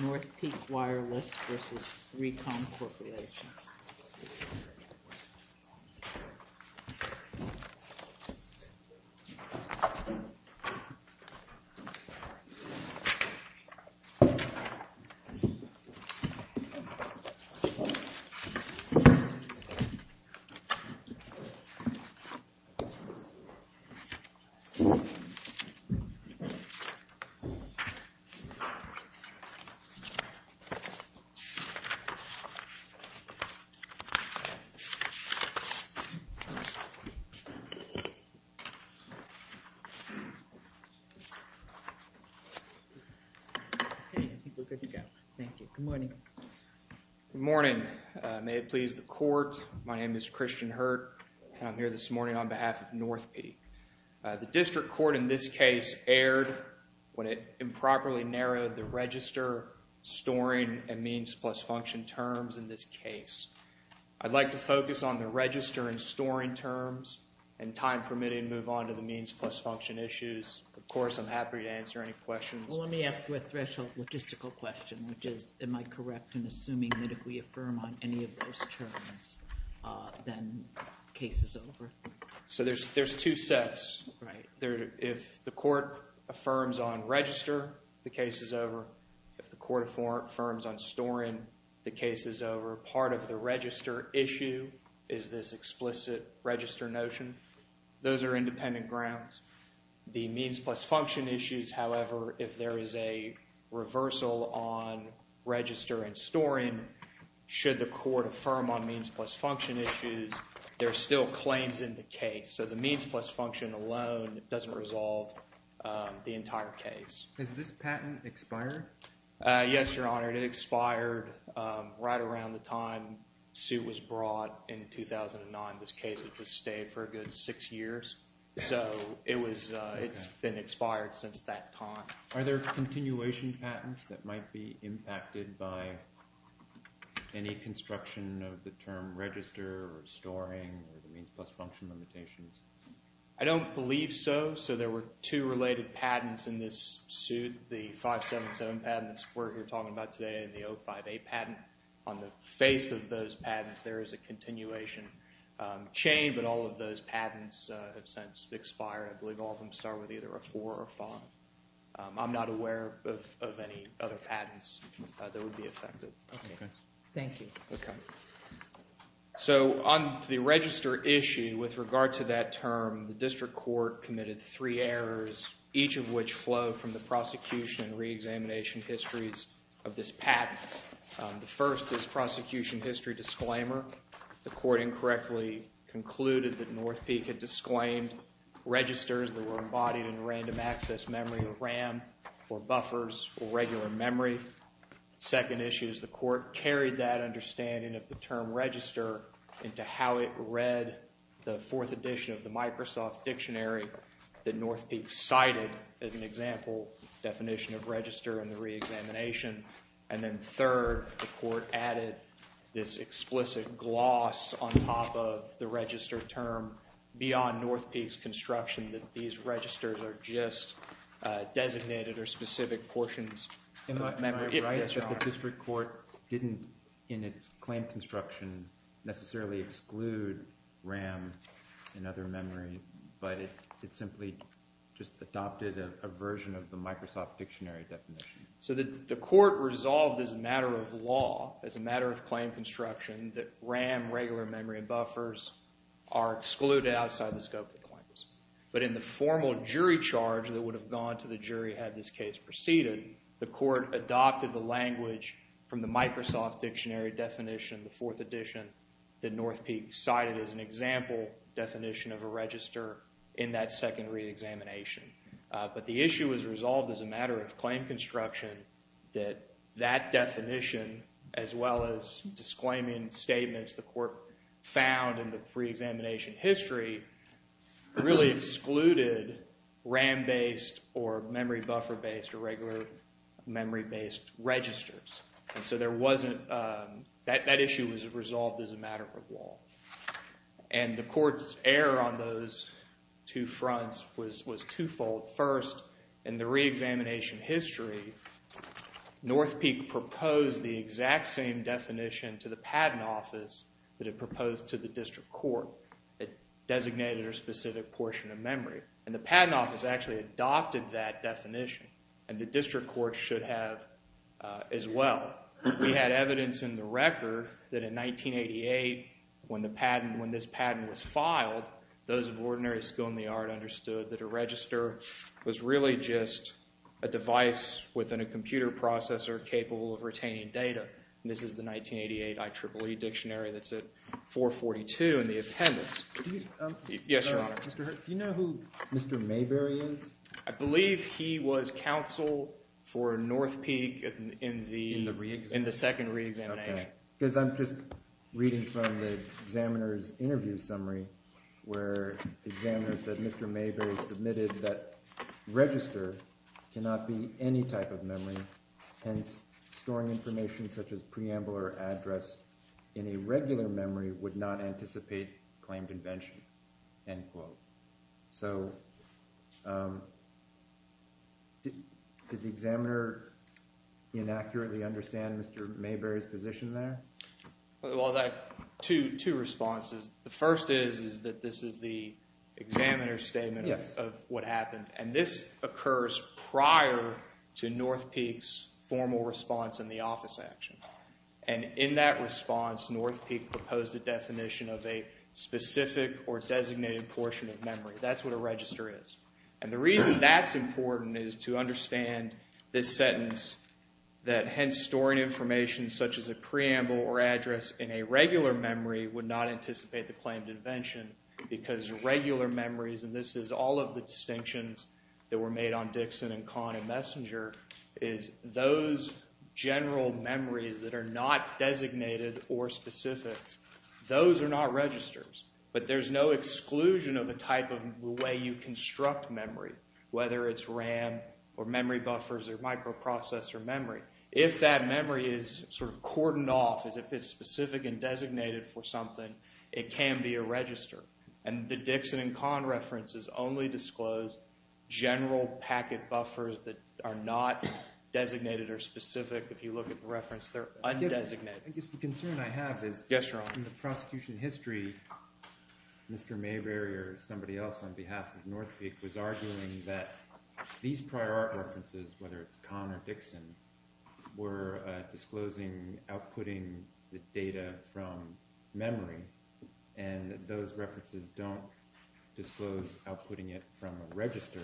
NorthPeak Wireless, LLC v. 3COM Corporation Good morning. May it please the court, my name is Christian Hurt and I'm here this morning on behalf of NorthPeak. The district court in this case erred when it improperly narrowed the register, storing, and means plus function terms in this case. I'd like to focus on the register and storing terms and time permitting move on to the means plus function issues. Of course, I'm happy to answer any questions. Well, let me ask you a logistical question, which is, am I correct in assuming that if we affirm on any of those terms, then the case is over? So there's two sets. If the court affirms on register, the case is over. If the court affirms on storing, the case is over. Part of the register issue is this explicit register notion. Those are independent grounds. The means plus function issues, however, if there is a reversal on register and storing, should the court affirm on means plus function issues, there are still claims in the case. So the means plus function alone doesn't resolve the entire case. Has this patent expired? Yes, Your Honor. It expired right around the time suit was brought in 2009. This case has just stayed for a good six years. So it's been expired since that time. Are there continuation patents that might be impacted by any construction of the term register or storing or the means plus function limitations? I don't believe so. So there were two related patents in this suit. The 577 patent that we're talking about today and the 05A patent. On the face of those patents, there is a continuation chain, but all of those patents have since expired. I believe all of them start with either a 4 or a 5. I'm not aware of any other patents that would be affected. Okay. Thank you. So on the register issue, with regard to that term, the district court committed three errors, each of which flow from the prosecution and reexamination histories of this patent. The first is prosecution history disclaimer. The court incorrectly concluded that North Peak had disclaimed registers that were embodied in random access memory or RAM or buffers or regular memory. Second issue is the court carried that understanding of the term register into how it read the fourth edition of the Microsoft Dictionary that North Peak cited as an example definition of register and the reexamination. And then third, the court added this explicit gloss on top of the register term beyond North Peak's construction that these registers are just designated or specific portions of memory. The district court didn't, in its claim construction, necessarily exclude RAM and other memory, but it simply just adopted a version of the Microsoft Dictionary definition. So the court resolved as a matter of law, as a matter of claim construction, that RAM, regular memory, and buffers are excluded outside the scope of the claims. But in the formal jury charge that would have gone to the jury had this case proceeded, the court adopted the language from the Microsoft Dictionary definition, the fourth edition, that North Peak cited as an example definition of a register in that second reexamination. But the issue was resolved as a matter of claim construction that that definition, as well as disclaiming statements the court found in the reexamination history, really excluded RAM-based or memory buffer-based or regular memory-based registers. And so there wasn't, that issue was resolved as a matter of law. And the court's error on those two fronts was twofold. First, in the reexamination history, North Peak proposed the exact same definition to the patent office that it proposed to the district court. It designated a specific portion of memory. And the patent office actually adopted that definition. And the district court should have as well. We had evidence in the record that in 1988, when this patent was filed, those of ordinary skill in the art understood that a register was really just a device within a computer processor capable of retaining data. And this is the 1988 IEEE dictionary that's at 442 in the appendix. Yes, Your Honor. Do you know who Mr. Mayberry is? I believe he was counsel for North Peak in the second reexamination. Because I'm just reading from the examiner's interview summary where the examiner said Mr. Mayberry submitted that register cannot be any type of memory, hence storing information such as preamble or address in a regular memory would not anticipate claim convention, end quote. So, did the examiner inaccurately understand Mr. Mayberry's position there? Well, there are two responses. The first is that this is the examiner's statement of what happened. And this occurs prior to North Peak's formal response and the office action. And in that response, North Peak proposed a definition of a specific or designated portion of memory. That's what a register is. And the reason that's important is to understand this sentence that hence storing information such as a preamble or address in a regular memory would not anticipate the claim convention because regular memories, and this is all of the distinctions that were made on Dixon and Kahn and Messenger, is those general memories that are not designated or specific, those are not registers. But there's no exclusion of the type of way you construct memory, whether it's RAM or memory buffers or microprocessor memory. If that memory is sort of cordoned off as if it's specific and designated for something, it can be a register. And the Dixon and Kahn references only disclose general packet buffers that are not designated or specific. If you look at the reference, they're undesignated. I guess the concern I have is in the prosecution history, Mr. Mayberry or somebody else on behalf of North Peak was arguing that these prior art references, whether it's memory, and those references don't disclose outputting it from a register.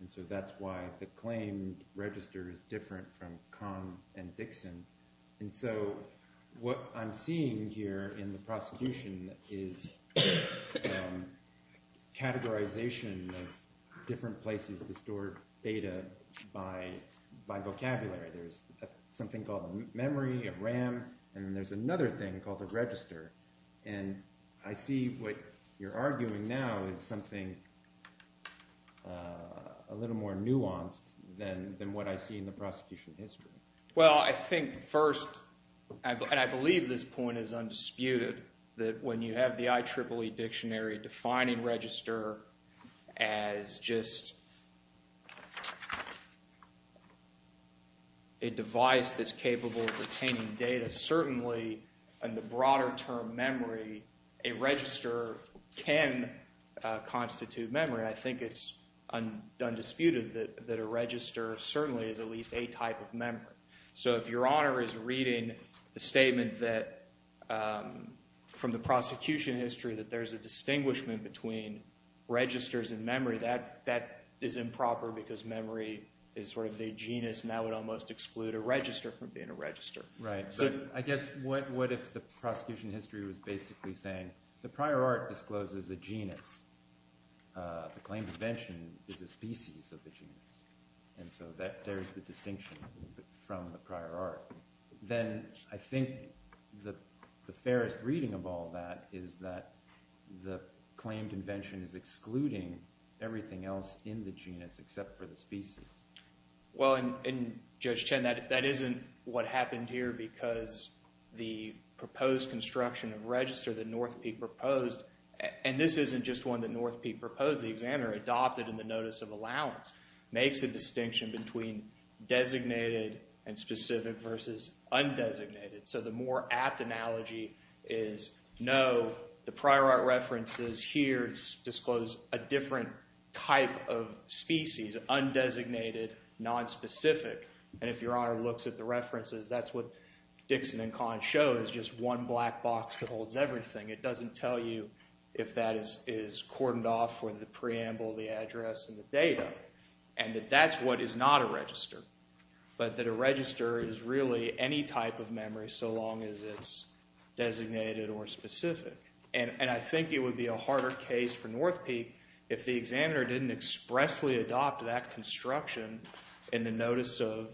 And so that's why the claim register is different from Kahn and Dixon. And so what I'm seeing here in the prosecution is categorization of different places to store data by vocabulary. There's something called a memory, a RAM, and there's another thing called a register. And I see what you're arguing now is something a little more nuanced than what I see in the prosecution history. Well, I think first, and I believe this point is undisputed, that when you have the IEEE dictionary defining register as just a device that's capable of retaining data, certainly in the broader term, memory, a register can constitute memory. And I think it's undisputed that a register certainly is at least a type of memory. So if Your Honor is reading the statement from the prosecution history that there's a distinguishment between registers and memory, that is improper because memory is sort of the genus and that would almost exclude a register from being a register. Right. So I guess what if the prosecution history was basically saying the prior art discloses a genus. The claimed invention is a species of the genus. And so there's the distinction from the prior art. Then I think the fairest reading of all that is that the claimed invention is excluding everything else in the genus except for the species. Well, and Judge Chen that isn't what happened here because the proposed construction of register that Northpeak proposed, and this isn't just one that Northpeak proposed, the examiner adopted in the notice of allowance, makes a distinction between designated and specific versus undesignated. So the more apt analogy is no, the prior art references here disclose a different type of species, undesignated, nonspecific. And if Your Honor looks at the references, that's what Dixon and Kahn show is just one black box that holds everything. It doesn't tell you if that is cordoned off for the preamble, the address, and the data. And that that's what is not a register. But that a register is really any type of memory so long as it's designated or specific. And I think it would be a harder case for Northpeak if the examiner didn't expressly adopt that construction in the notice of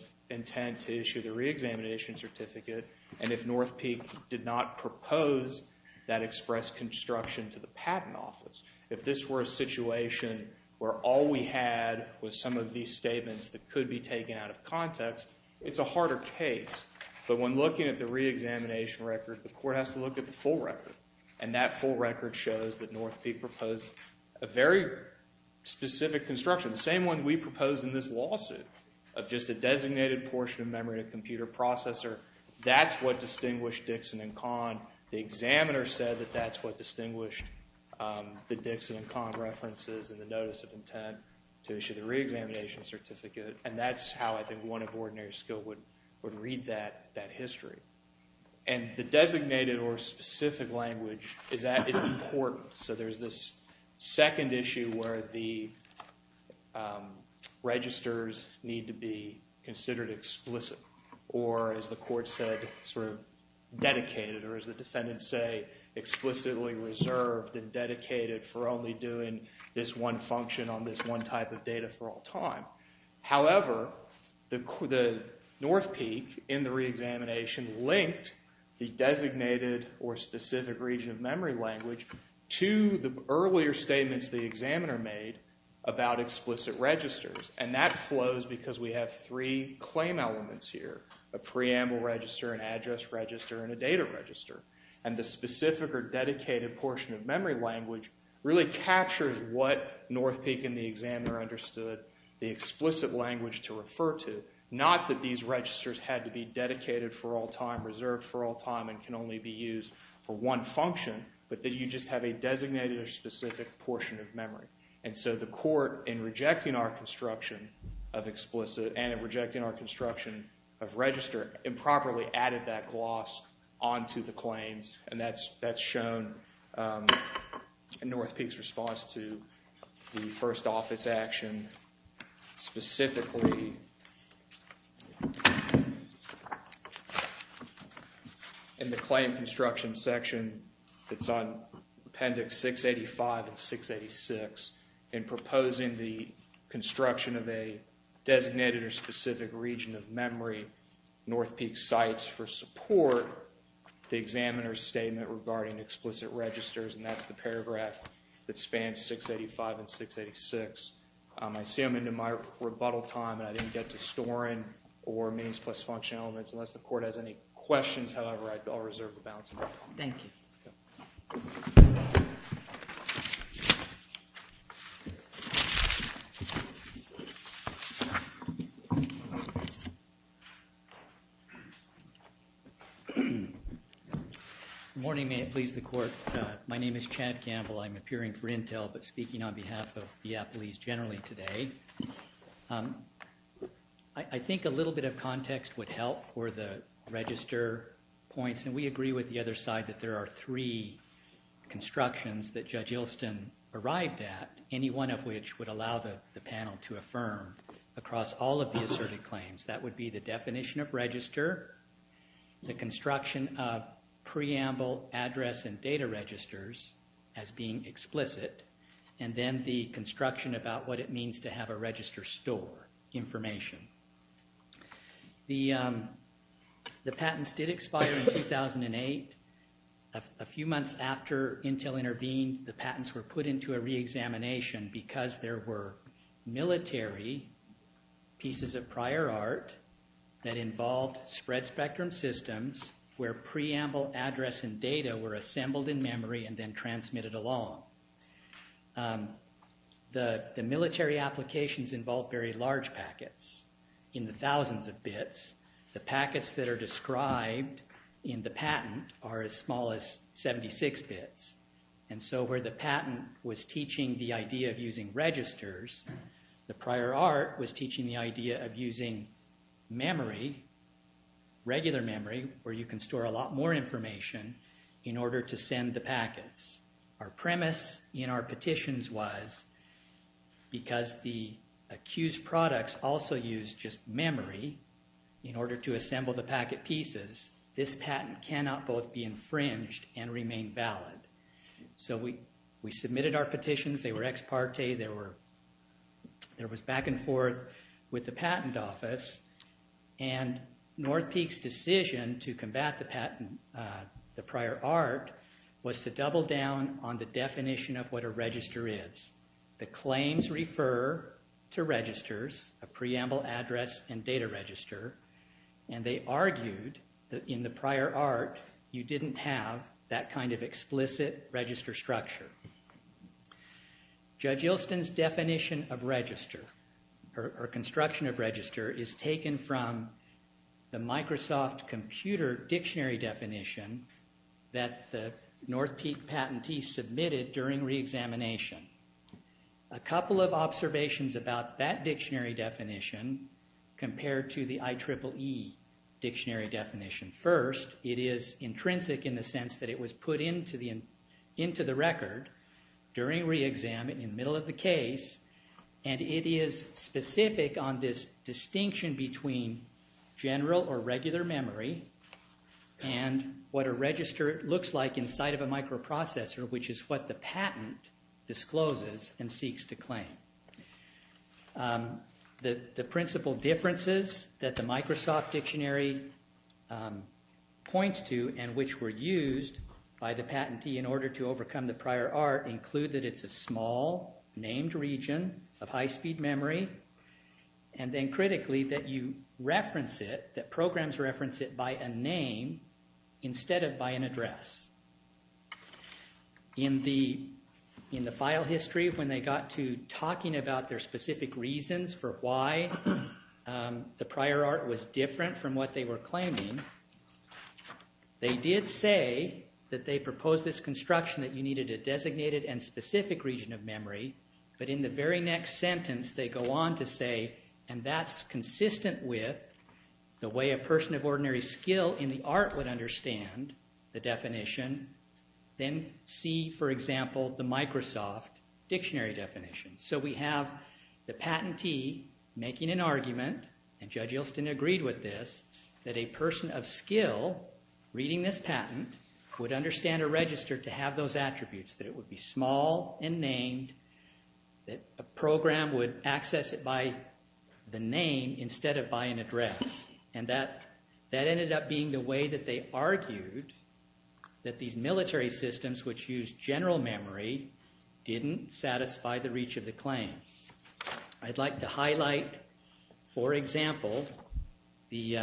express construction to the patent office. If this were a situation where all we had was some of these statements that could be taken out of context, it's a harder case. But when looking at the reexamination record, the court has to look at the full record. And that full record shows that Northpeak proposed a very specific construction. The same one we proposed in this lawsuit of just a designated portion of memory in a computer processor. That's what distinguished Dixon and Kahn. The examiner said that that's what distinguished the Dixon and Kahn references in the notice of intent to issue the reexamination certificate. And that's how I think one of ordinary skill would read that history. And the designated or specific language is important. So there's this sort of explicit or as the court said sort of dedicated or as the defendants say explicitly reserved and dedicated for only doing this one function on this one type of data for all time. However, the Northpeak in the reexamination linked the designated or specific region of memory language to the earlier statements the examiner made about explicit registers. And that flows because we have three claim elements here. A preamble register, an address register, and a data register. And the specific or dedicated portion of memory language really captures what Northpeak and the examiner understood the explicit language to refer to. Not that these registers had to be dedicated for all time, and can only be used for one function, but that you just have a designated or specific portion of memory. And so the court in rejecting our construction of explicit and in rejecting our construction of register improperly added that gloss onto the claims. And that's shown in Northpeak's response to the first office action specifically in the claim construction section that's on appendix 685 and 686 in proposing the construction of a designated or specific region of memory Northpeak cites for support the examiner's statement regarding explicit registers and that's the paragraph that spans 685 and 686. I see I'm into my rebuttal time and I didn't get to storing or means plus function elements unless the court has any questions. However, I'll reserve the balance of my time. Thank you. Morning. May it please the court. My name is Chad Campbell. I'm appearing for Intel, but speaking on behalf of the police generally today. I think a little bit of context would help for the register points and we agree with the other side that there are three constructions that Judge Ilston arrived at, any one of which would allow the panel to affirm across all of the asserted claims. That would be the definition of register, the construction of preamble address and data registers as being explicit, and then the construction about what it means to have a register store information. The patents did expire in 2008. A few months after Intel intervened, the patents were put into a re-examination because there were military pieces of prior art that involved spread spectrum systems where preamble address and data were assembled in memory and then transmitted along. The military applications involve very large packets in the thousands of bits. The packets that are described in the patent are as small as 76 bits. And so where the patent was teaching the idea of using registers, the prior art was teaching the idea of using memory, regular memory where you can store a lot more information in order to send the packets. Our premise in our petitions was because the accused products also used just memory in order to assemble the packet pieces, this patent cannot both be infringed and remain valid. So we submitted our petitions, they were ex parte, there was back and forth with the patent office, and North Peak's decision to combat the prior art was to double down on the definition of what a register is. The claims refer to registers, a preamble address and data register, and they argued that in the prior art you didn't have that kind of explicit register structure. Judge Ilston's definition of register or construction of register is taken from the Microsoft computer dictionary definition that the North Peak patentee submitted during re-examination. A couple of observations about that dictionary definition compared to the IEEE dictionary definition. First, it is intrinsic in the sense that it was put into the record during re-exam, in the middle of the case, and it is specific on this distinction between general or regular memory and what a register looks like inside of a microprocessor, which is what the patent discloses and seeks to claim. The principal differences that the Microsoft dictionary points to and which were used by the patentee in order to overcome the prior art include that it's a small named region of high speed memory, and then critically that you reference it, that programs reference it by a name instead of by an address. In the file history when they got to talking about their specific reasons for why the prior art was different from what they were claiming, they did say that they proposed this construction that you needed a designated and specific region of memory, but in the very next sentence they go on to say, and that's consistent with the way a person of ordinary skill in the art would understand the definition, then see, for example, the Microsoft dictionary definition. So we have the patentee making an argument, and Judge Yelston agreed with this, that a person of skill reading this patent would understand a register to have those attributes, that it would be small and named, that a program would access it by the name instead of by an address, and that ended up being the way that they argued that these military systems which use general memory didn't satisfy the reach of the claim. I'd like to highlight for example the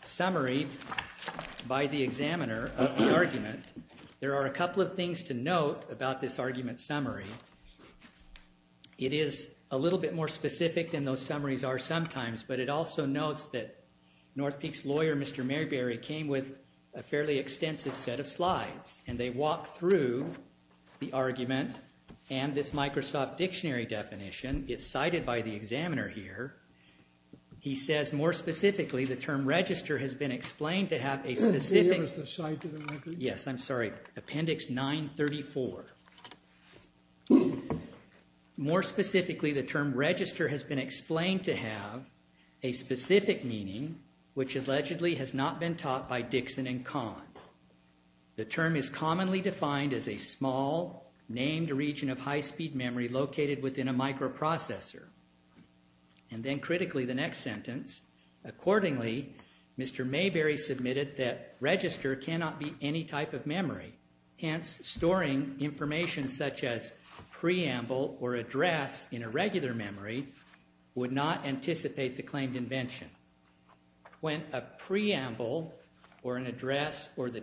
summary by the examiner of the argument. There are a couple of things to note about this argument summary. It is a little bit more specific than those summaries are sometimes, but it also notes that North Peak's lawyer, Mr. Mayberry, came with a fairly Microsoft dictionary definition. It's cited by the examiner here. He says more specifically the term register has been explained to have a specific... Yes, I'm sorry. Appendix 934. More specifically the term register has been explained to have a specific meaning which allegedly has not been taught by Dixon and located within a microprocessor. And then critically the next sentence, accordingly Mr. Mayberry submitted that register cannot be any type of memory, hence storing information such as preamble or address in a regular memory would not anticipate the claimed invention. When a preamble or an address or the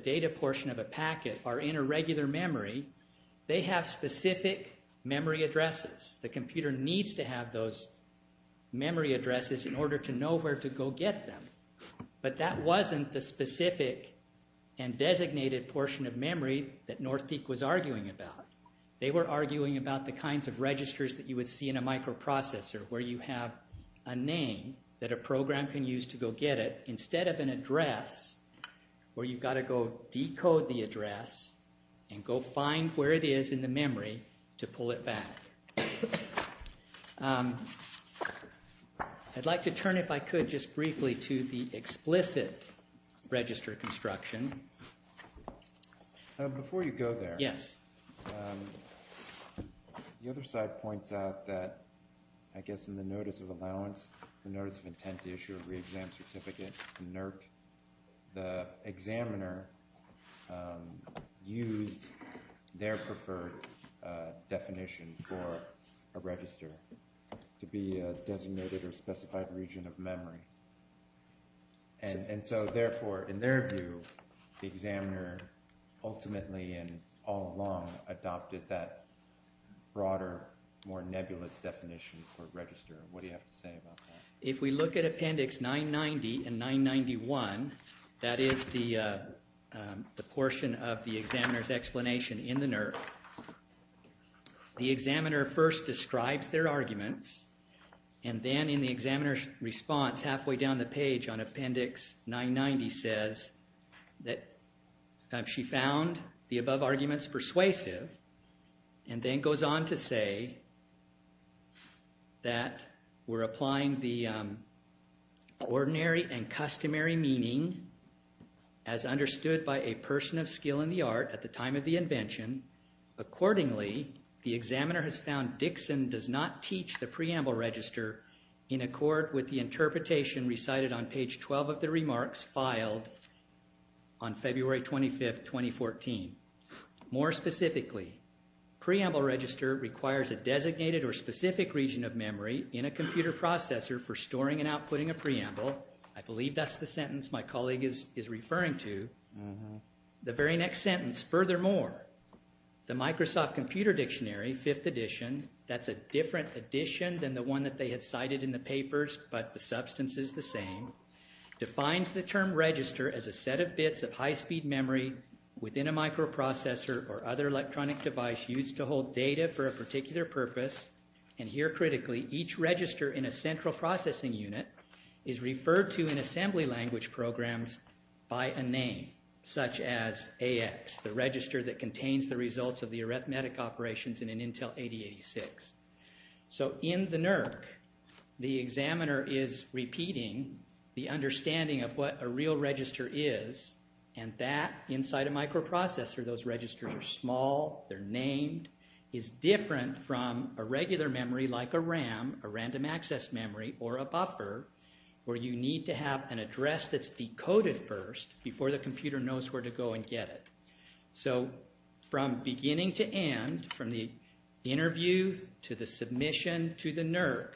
computer needs to have those memory addresses in order to know where to go get them. But that wasn't the specific and designated portion of memory that North Peak was arguing about. They were arguing about the kinds of registers that you would see in a microprocessor where you have a name that a program can use to go get it instead of an address where you've got to go I'd like to turn if I could just briefly to the explicit register construction. Before you go there, the other side points out that I guess in the notice of allowance, the notice of intent to issue a re-exam certificate from NERC, the examiner used their preferred definition for a register to be a designated or specified region of memory. And so therefore in their view the examiner ultimately and all along adopted that broader more nebulous definition for register. What do you have to say about that? If we look at Appendix 990 and 991, that is the portion of the examiner's explanation in the NERC, the examiner first describes their arguments and then in the examiner's response halfway down the page on Appendix 990 says that she found the above arguments persuasive and then goes on to say that we're applying the ordinary and customary meaning as understood by a person of skill in the art at the time of the invention. Accordingly, the examiner has found Dixon does not teach the preamble register in accord with the interpretation recited on page 12 of the preamble register requires a designated or specific region of memory in a computer processor for storing and outputting a preamble. I believe that's the sentence my colleague is referring to. The very next sentence, furthermore, the Microsoft Computer Dictionary 5th edition, that's a different edition than the one that they had cited in the papers, but the substance is the same, defines the term register as a set of bits of high-speed memory within a microprocessor or other electronic device used to hold data for a particular purpose and here critically each register in a central processing unit is referred to in assembly language programs by a name such as AX, the register that contains the results of the arithmetic operations in an Intel 8086. So in the NERC, the examiner is repeating the understanding of what a real register is and that inside a microprocessor, those registers are small, they're named, is different from a regular memory like a RAM, a random access memory, or a buffer where you need to have an address that's decoded first before the computer knows where to go and get it. So from beginning to end, from the interview to the submission to the NERC,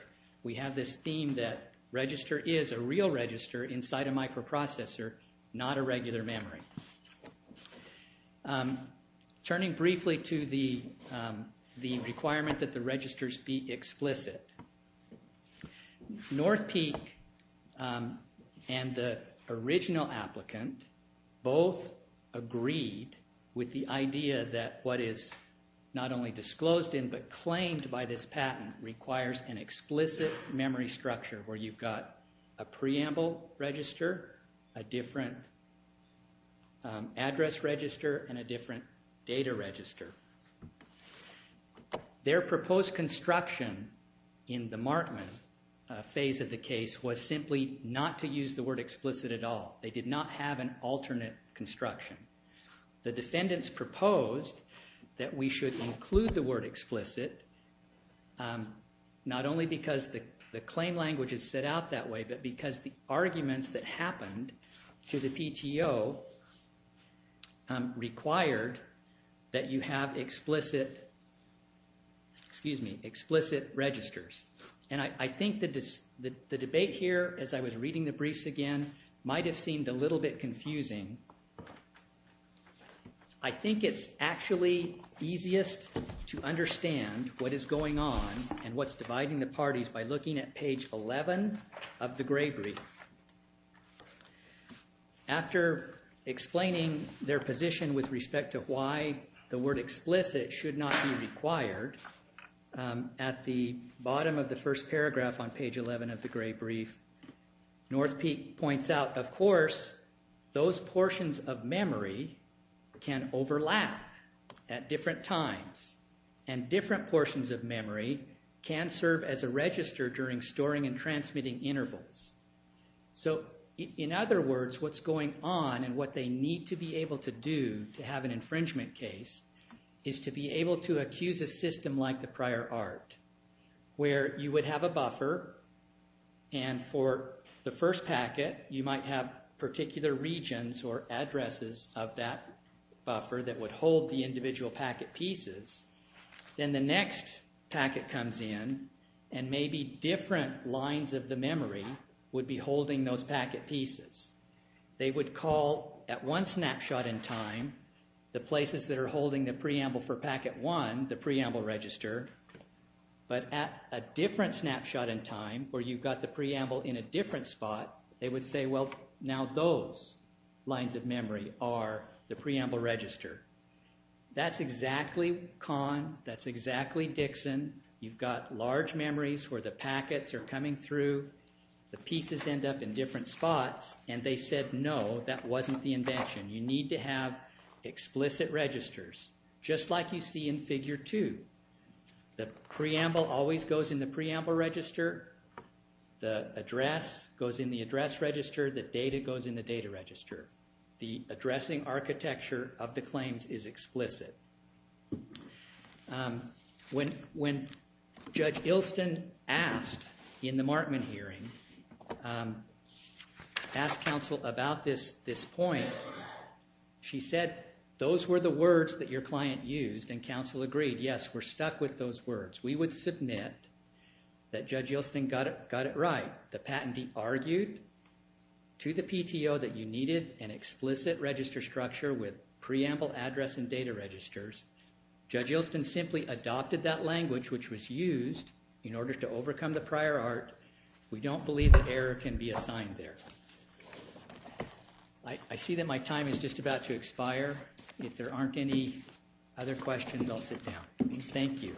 we have this theme that register is a real register inside a microprocessor, not a regular memory. Turning briefly to the requirement that the registers be explicit, North Peak and the original applicant both agreed with the idea that what is not only disclosed in but claimed by this patent requires an explicit memory structure where you've got a preamble register, a different address register, and a different data register. Their proposed construction in the Markman phase of the case was simply not to use the word explicit at all. They did not have an alternate construction. The defendants proposed that we should include the word explicit not only because the claim language is set out that way, but because the arguments that happened to the PTO required that you have explicit registers. And I think the debate here, as I was reading the briefs again, might have seemed a little bit confusing. I think it's actually easiest to understand what is going on and what's dividing the parties by looking at page 11 of the gray brief. After explaining their position with respect to why the word explicit should not be required, at the bottom of the first paragraph on page 11 of the gray brief, North Peak points out, of course, those portions of memory can overlap at different times, and different portions of memory can serve as a register during storing and transmitting intervals. So in other words, what's going on and what they need to be able to do to have an infringement case is to be able to accuse a system like the prior art, where you would have a buffer and for the first packet, you might have particular regions or addresses of that buffer that would hold the individual packet pieces. Then the next packet comes in and maybe different lines of the memory would be holding those packet pieces. They would call at one snapshot in time the places that are holding the preamble for packet one, the preamble register, but at a different snapshot in time where you've got the preamble in a different spot, they would say, well, now those lines of memory are the preamble register. That's exactly Kahn. That's exactly Dixon. You've got large memories where the packets are coming through. The pieces end up in different spots and they said, no, that wasn't the invention. You need to have explicit registers. Just like you see in figure two. The preamble always goes in the preamble register. The address goes in the address register. The data goes in the data register. The When Judge Ilston asked in the Markman hearing, asked counsel about this point, she said, those were the words that your client used and counsel agreed, yes, we're stuck with those words. We would submit that Judge Ilston got it right. The patentee argued to the PTO that you needed an explicit register structure with preamble address and data registers. Judge Ilston simply adopted that language, which was used in order to overcome the prior art. We don't believe that error can be assigned there. I see that my time is just about to expire. If there aren't any other questions, I'll sit down. Thank you.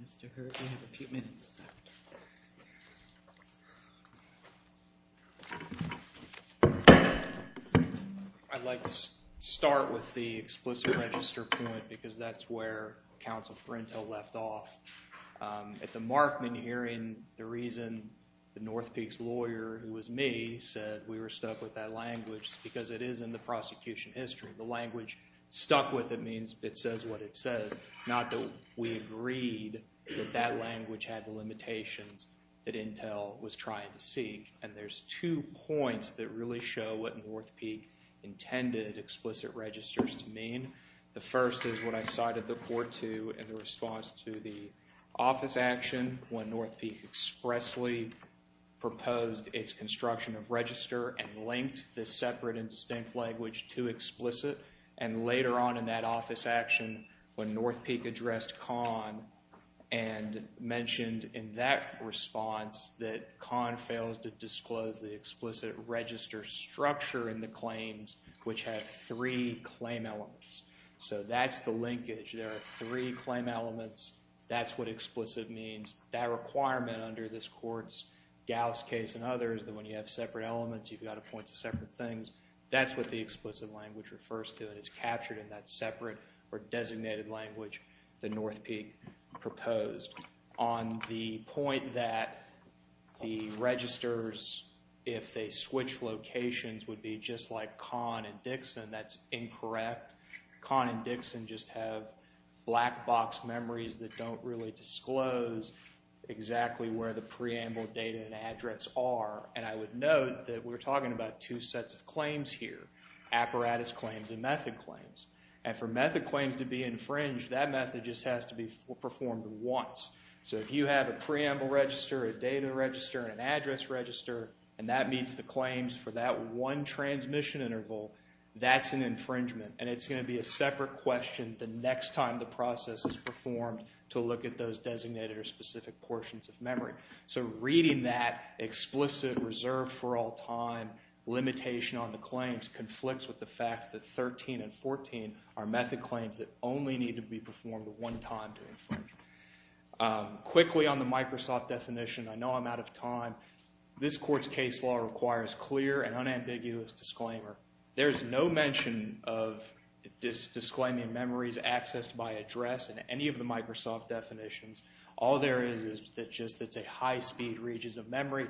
Mr. Heard, you have a few minutes left. I'd like to start with the explicit register point because that's where counsel Frentel left off. At the Markman hearing, the reason the North Peak's lawyer, who was me, said we were stuck with that language is because it is in the prosecution history. The language stuck with it means it says what it says. Not that we agreed that that language had the limitations that Intel was trying to seek. And there's two points that really show what North Peak intended explicit registers to mean. The first is what I refer to in the response to the office action when North Peak expressly proposed its construction of register and linked the separate and distinct language to explicit. And later on in that office action when North Peak addressed Kahn and mentioned in that response that Kahn fails to disclose the explicit register structure in the claims which have three claim elements. So that's the linkage. There are three claim elements. That's what explicit means. That requirement under this court's Gauss case and others that when you have separate elements, you've got to point to separate things. That's what the explicit language refers to and is captured in that separate or designated language that North Peak proposed. On the point that the registers if they switch locations would be just like Kahn and Dixon. That's incorrect. Kahn and Dixon just have black box memories that don't really disclose exactly where the preamble data and address are. And I would note that we're talking about two sets of claims here. Apparatus claims and method claims. And for method claims to be infringed, that method just has to be performed once. So if you have a preamble register, a data register, an address register, and that meets the claims for that one transmission interval, that's an infringement. And it's going to be a separate question the next time the process is performed to look at those designated or specific portions of memory. So reading that explicit reserve for all time limitation on the claims conflicts with the fact that 13 and 14 are method claims that only need to be performed one time to infringe. Quickly on the Microsoft definition. I know I'm out of time. This court's case law requires clear and unambiguous disclaimer. There's no mention of disclaiming memories accessed by address in any of the Microsoft definitions. All there is is just that it's a high speed region of memory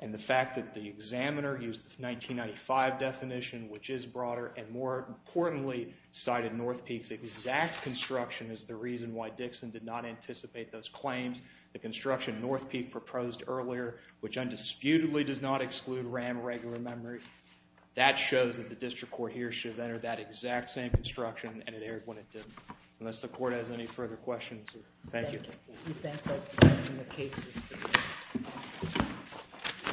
and the fact that the examiner used the 1995 definition, which is broader, and more importantly cited North Peak's exact construction as the reason why Dixon did not anticipate those claims. The construction North Peak proposed earlier, which undisputedly does not exclude RAM regular memory, that shows that the district court here should have entered that exact same construction and it erred when it did. Unless the court has any further questions. Thank you.